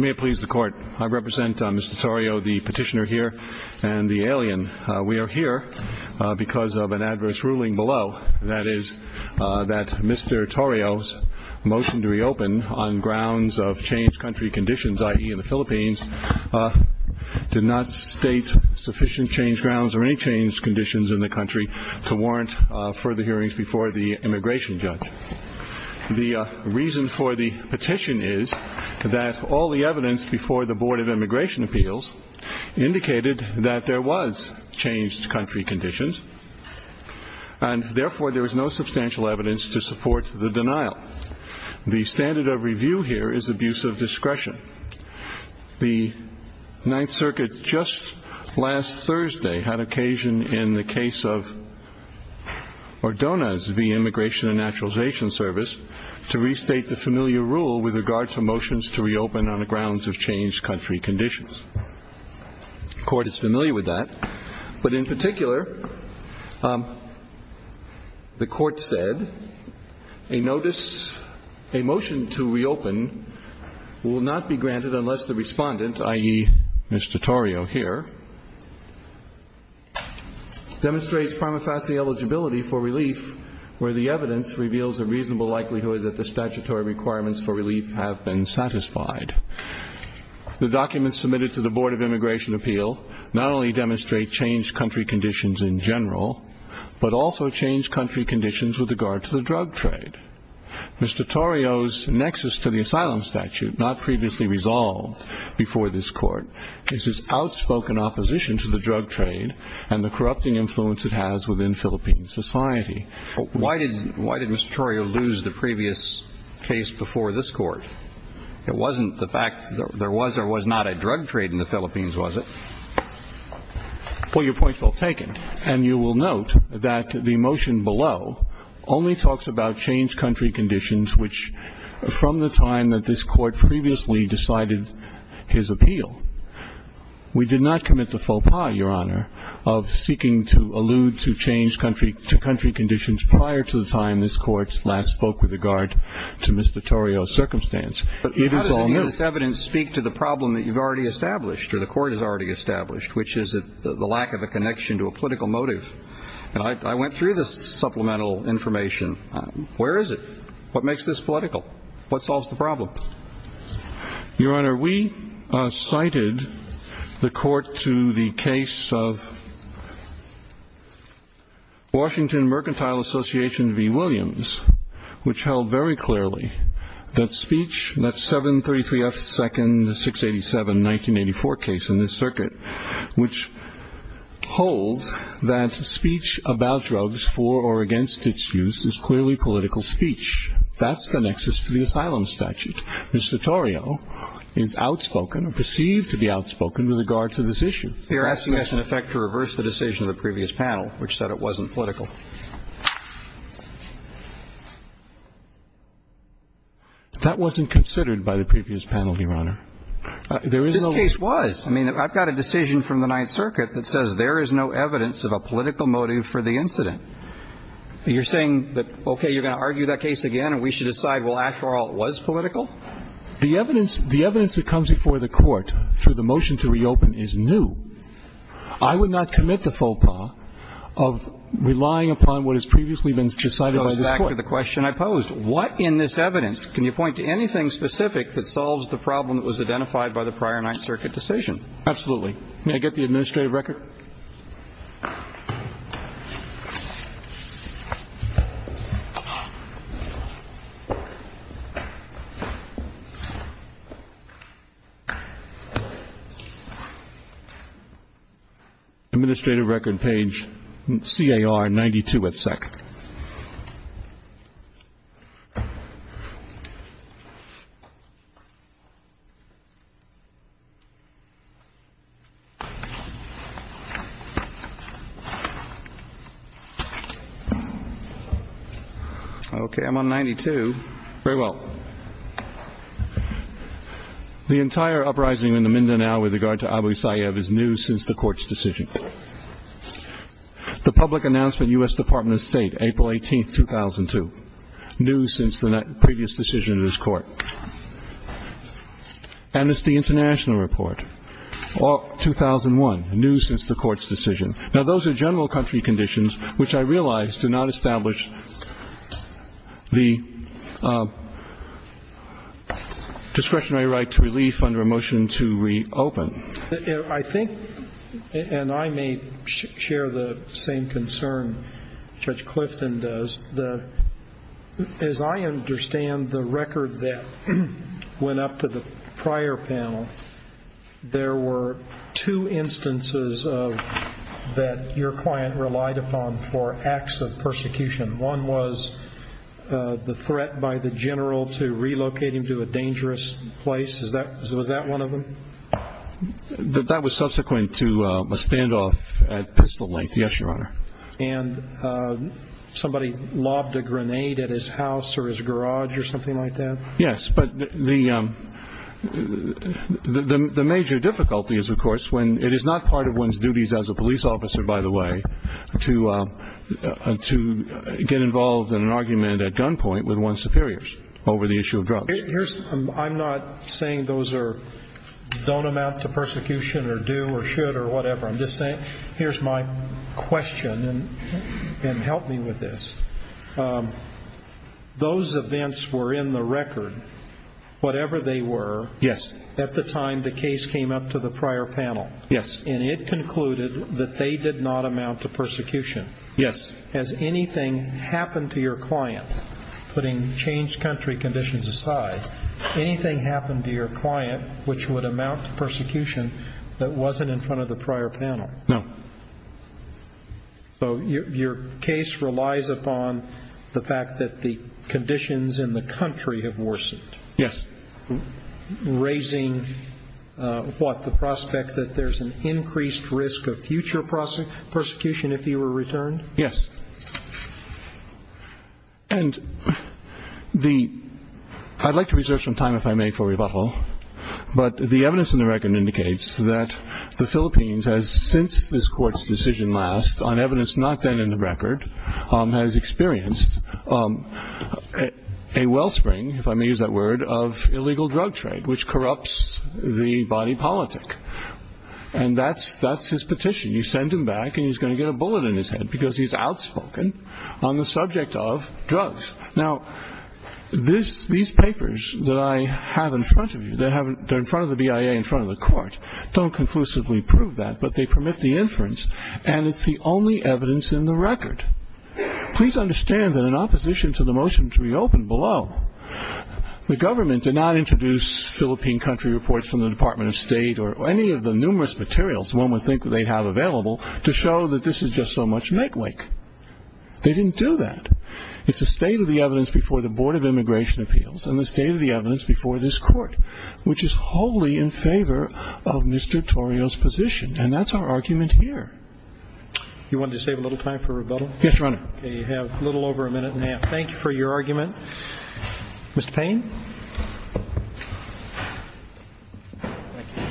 May it please the Court, I represent Mr. Torio, the petitioner here, and the alien. We are here because of an adverse ruling below, that is, that Mr. Torio's motion to reopen on grounds of changed country conditions, i.e. in the Philippines, did not state sufficient changed grounds or any changed conditions in the country to warrant further hearings before the immigration judge. The reason for the petition is that all the evidence before the Board of Immigration Appeals indicated that there was changed country conditions, and therefore there is no substantial evidence to support the denial. The standard of review here is abuse of discretion. The Ninth Circuit just last Thursday had occasion in the case of Ordonez v. Immigration and Naturalization Service to restate the familiar rule with regard to motions to reopen on the grounds of changed country conditions. The Court is familiar with that, but in particular, the Court said, a notice, a motion to reopen will not be granted unless the respondent, i.e. Mr. Torio here, demonstrates prima facie eligibility for relief where the evidence reveals a reasonable likelihood that the statutory requirements for relief have been satisfied. The documents submitted to the Board of Immigration Appeal not only demonstrate changed country conditions in general, but also changed country conditions with regard to the drug trade. Mr. Torio's nexus to the asylum statute, not previously resolved before this Court, is his outspoken opposition to the drug trade and the corrupting influence it has within Philippine society. Why did Mr. Torio lose the previous case before this Court? It wasn't the fact that there was or was not a drug trade in the Philippines, was it? Well, your point's well taken. And you will note that the motion below only talks about changed country conditions, which from the time that this Court previously decided his appeal, we did not commit the faux pas, Your Honor, of seeking to allude to changed country conditions prior to the time this Court last spoke with regard to Mr. Torio's circumstance. But how does this evidence speak to the problem that you've already established or the Court has already established, which is the lack of a connection to a political motive? And I went through this supplemental information. Where is it? What makes this political? What solves the problem? Your Honor, we cited the Court to the case of Washington Mercantile Association v. Williams, which held very clearly that speech, that 733F 2nd 687 1984 case in this circuit, which holds that speech about drugs for or against its use is clearly political speech. That's the nexus to the asylum statute. Mr. Torio is outspoken or perceived to be outspoken with regard to this issue. You're asking us, in effect, to reverse the decision of the previous panel, which said it wasn't political. That wasn't considered by the previous panel, Your Honor. This case was. I mean, I've got a decision from the Ninth Circuit that says there is no evidence of a political motive for the incident. You're saying that, okay, you're going to argue that case again and we should decide, well, after all, it was political? The evidence that comes before the Court through the motion to reopen is new. I would not commit the faux pas of relying upon what has previously been decided by this Court. It goes back to the question I posed. What in this evidence, can you point to anything specific that solves the problem that was identified by the prior Ninth Circuit decision? Absolutely. May I get the administrative record? Administrative record, page CAR-92, at second. Okay. I'm on 92. Very well. The entire uprising in the Mindanao with regard to Abu Sayyaf is new since the Court's decision. The public announcement, U.S. Department of State, April 18, 2002, new since the previous decision of this Court. And it's the international report, 2001, new since the Court's decision. Now, those are general country conditions which I realize do not establish the discretionary right to relief under a motion to reopen. I think, and I may share the same concern Judge Clifton does, as I understand the record that went up to the prior panel, there were two instances that your client relied upon for acts of persecution. One was the threat by the general to relocate him to a dangerous place. Was that one of them? That was subsequent to a standoff at pistol length, yes, Your Honor. And somebody lobbed a grenade at his house or his garage or something like that? Yes, but the major difficulty is, of course, when it is not part of one's duties as a police officer, by the way, to get involved in an argument at gunpoint with one's superiors over the issue of drugs. I'm not saying those don't amount to persecution or do or should or whatever. I'm just saying here's my question, and help me with this. Those events were in the record, whatever they were, at the time the case came up to the prior panel. Yes. And it concluded that they did not amount to persecution. Yes. Has anything happened to your client, putting changed country conditions aside, anything happened to your client which would amount to persecution that wasn't in front of the prior panel? No. So your case relies upon the fact that the conditions in the country have worsened? Yes. Raising what, the prospect that there's an increased risk of future persecution if he were returned? Yes. And I'd like to reserve some time, if I may, for rebuttal, but the evidence in the record indicates that the Philippines has, since this court's decision last, on evidence not then in the record, has experienced a wellspring, if I may use that word, of illegal drug trade, which corrupts the body politic. And that's his petition. You send him back and he's going to get a bullet in his head because he's outspoken on the subject of drugs. Now, these papers that I have in front of you, that are in front of the BIA, in front of the court, don't conclusively prove that, but they permit the inference, and it's the only evidence in the record. Please understand that in opposition to the motion to reopen below, the government did not introduce Philippine country reports from the Department of State or any of the numerous materials one would think that they'd have available to show that this is just so much make wake. They didn't do that. It's a state of the evidence before the Board of Immigration Appeals and the state of the evidence before this court, which is wholly in favor of Mr. Torrio's position. And that's our argument here. You wanted to save a little time for rebuttal? Yes, Your Honor. Okay. You have a little over a minute and a half. Thank you for your argument. Mr. Payne. Thank you.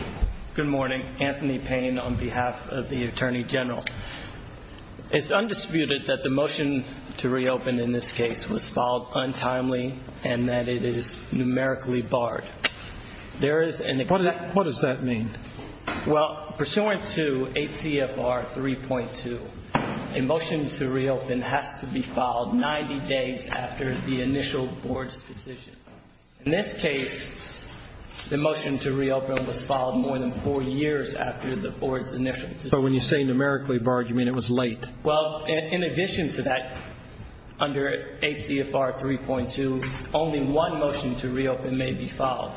Good morning. Anthony Payne on behalf of the Attorney General. It's undisputed that the motion to reopen in this case was filed untimely and that it is numerically barred. What does that mean? Well, pursuant to ACFR 3.2, a motion to reopen has to be filed 90 days after the initial board's decision. In this case, the motion to reopen was filed more than four years after the board's initial decision. So when you say numerically barred, you mean it was late? Well, in addition to that, under ACFR 3.2, only one motion to reopen may be filed.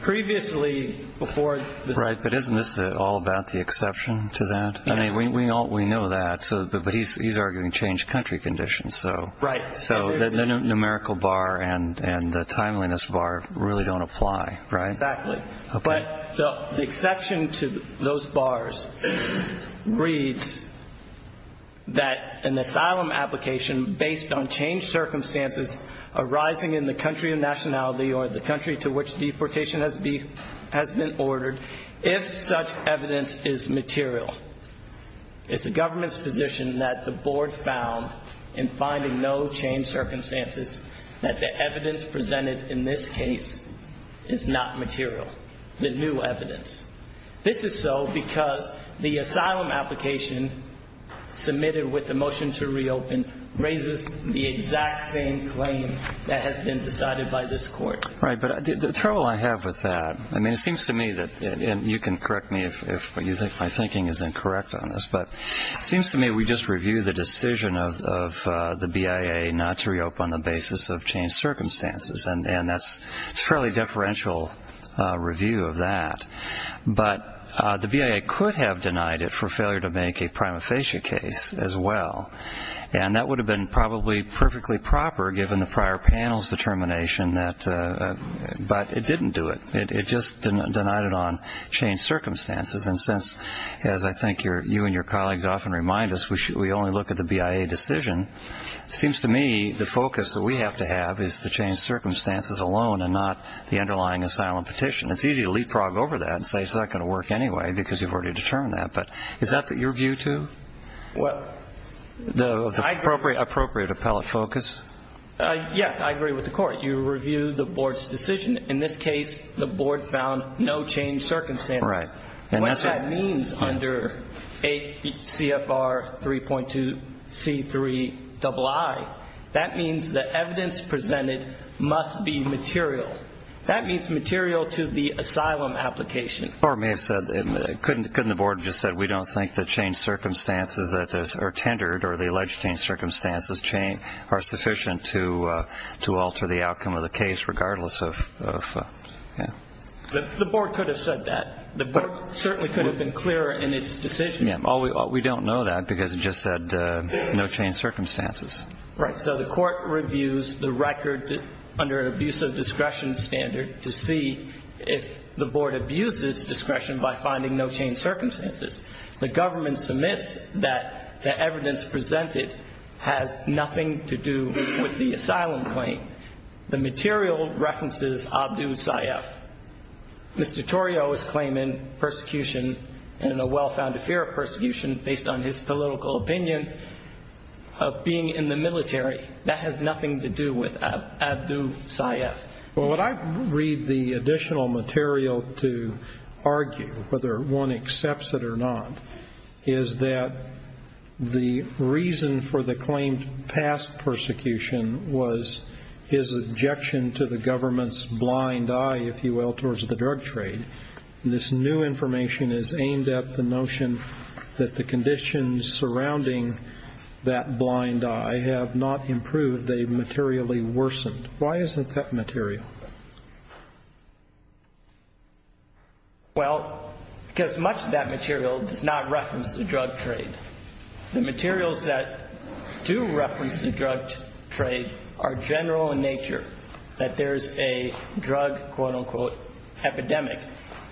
Previously, before the state's decision. Right, but isn't this all about the exception to that? Yes. I mean, we know that, but he's arguing changed country conditions. Right. So the numerical bar and the timeliness bar really don't apply, right? Exactly. Okay. But the exception to those bars reads that an asylum application based on changed circumstances arising in the country of nationality or the country to which deportation has been ordered, if such evidence is material, it's the government's position that the board found in finding no changed circumstances that the evidence presented in this case is not material. The new evidence. This is so because the asylum application submitted with the motion to reopen raises the exact same claim that has been decided by this court. Right, but the trouble I have with that, I mean, it seems to me that, and you can correct me if you think my thinking is incorrect on this, but it seems to me we just reviewed the decision of the BIA not to reopen on the basis of changed circumstances, and that's fairly deferential review of that. But the BIA could have denied it for failure to make a prima facie case as well, and that would have been probably perfectly proper given the prior panel's determination, but it didn't do it. It just denied it on changed circumstances. And since, as I think you and your colleagues often remind us, we only look at the BIA decision, it seems to me the focus that we have to have is the changed circumstances alone and not the underlying asylum petition. It's easy to leapfrog over that and say it's not going to work anyway because you've already determined that. But is that what you're viewed to? The appropriate appellate focus? Yes, I agree with the court. You review the board's decision. In this case, the board found no changed circumstances. What that means under ACFR 3.2C3II, that means the evidence presented must be material. That means material to the asylum application. Or it may have said, couldn't the board have just said, we don't think the changed circumstances that are tendered or the alleged changed circumstances are sufficient to alter the outcome of the case regardless of, yeah. The board could have said that. The board certainly could have been clearer in its decision. We don't know that because it just said no changed circumstances. Right. So the court reviews the record under an abuse of discretion standard to see if the board abuses discretion by finding no changed circumstances. The government submits that the evidence presented has nothing to do with the asylum claim. The material references Abdu Saif. Mr. Torrio is claiming persecution and a well-founded fear of persecution based on his political opinion of being in the military. That has nothing to do with Abdu Saif. Well, what I read the additional material to argue, whether one accepts it or not, is that the reason for the claimed past persecution was his objection to the government's blind eye, if you will, towards the drug trade. This new information is aimed at the notion that the conditions surrounding that blind eye have not improved, they've materially worsened. Why isn't that material? Well, because much of that material does not reference the drug trade. The materials that do reference the drug trade are general in nature, that there's a drug, quote, unquote, epidemic.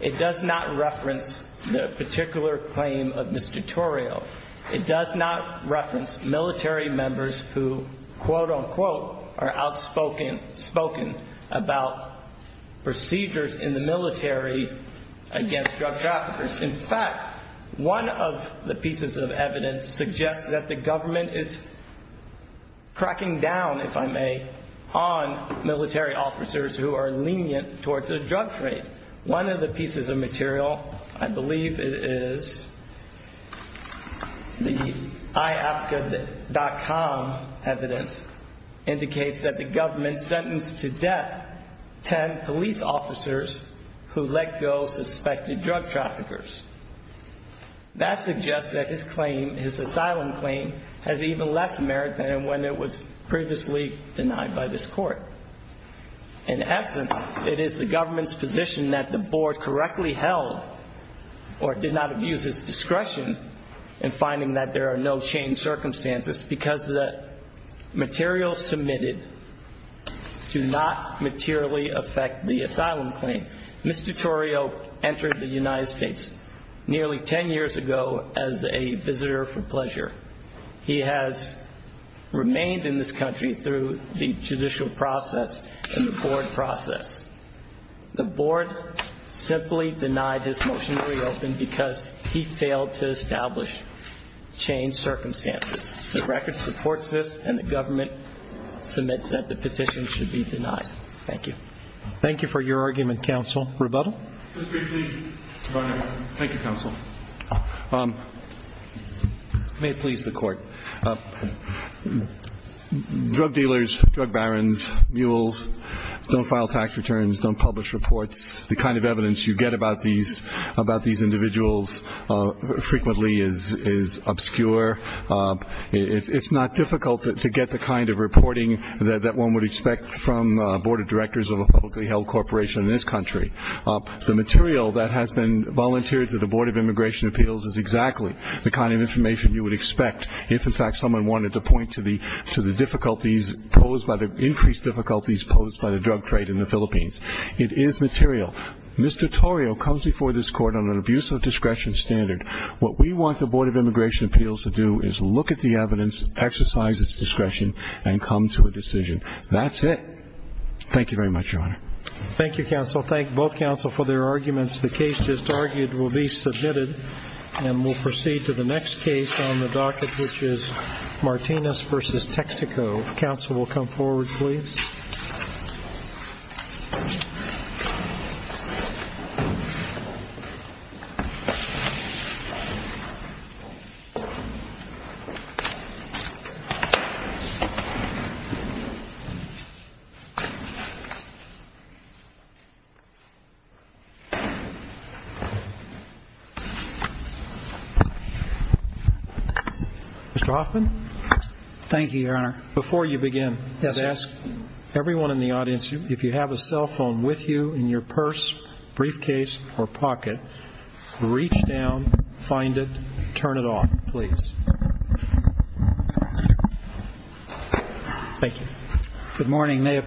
It does not reference the particular claim of Mr. Torrio. It does not reference military members who, quote, unquote, are outspoken about procedures in the military against drug traffickers. In fact, one of the pieces of evidence suggests that the government is cracking down, if I may, on military officers who are lenient towards the drug trade. One of the pieces of material, I believe it is the IAFCA.com evidence, indicates that the government sentenced to death 10 police officers who let go suspected drug traffickers. That suggests that his claim, his asylum claim, has even less merit than when it was previously denied by this court. In essence, it is the government's position that the board correctly held or did not abuse its discretion in finding that there are no changed circumstances because the materials submitted do not materially affect the asylum claim. Mr. Torrio entered the United States nearly 10 years ago as a visitor for pleasure. He has remained in this country through the judicial process and the board process. The board simply denied his motion to reopen because he failed to establish changed circumstances. The record supports this, and the government submits that the petition should be denied. Thank you. Thank you for your argument, Counsel. Rebuttal? Thank you, Counsel. May it please the Court. Drug dealers, drug barons, mules don't file tax returns, don't publish reports. The kind of evidence you get about these individuals frequently is obscure. It's not difficult to get the kind of reporting that one would expect from board of directors of a publicly held corporation in this country. The material that has been volunteered to the Board of Immigration Appeals is exactly the kind of information you would expect if, in fact, someone wanted to point to the difficulties posed by the increased difficulties posed by the drug trade in the Philippines. It is material. Mr. Torrio comes before this Court on an abuse of discretion standard. What we want the Board of Immigration Appeals to do is look at the evidence, exercise its discretion, and come to a decision. That's it. Thank you very much, Your Honor. Thank you, Counsel. Thank both Counsel for their arguments. The case just argued will be submitted, and we'll proceed to the next case on the docket, which is Martinez v. Texaco. Counsel will come forward, please. Mr. Hoffman? Thank you, Your Honor. Before you begin, I'd ask everyone in the audience, if you have a cell phone with you in your purse, briefcase, or pocket, reach down, find it, turn it on, please. Thank you.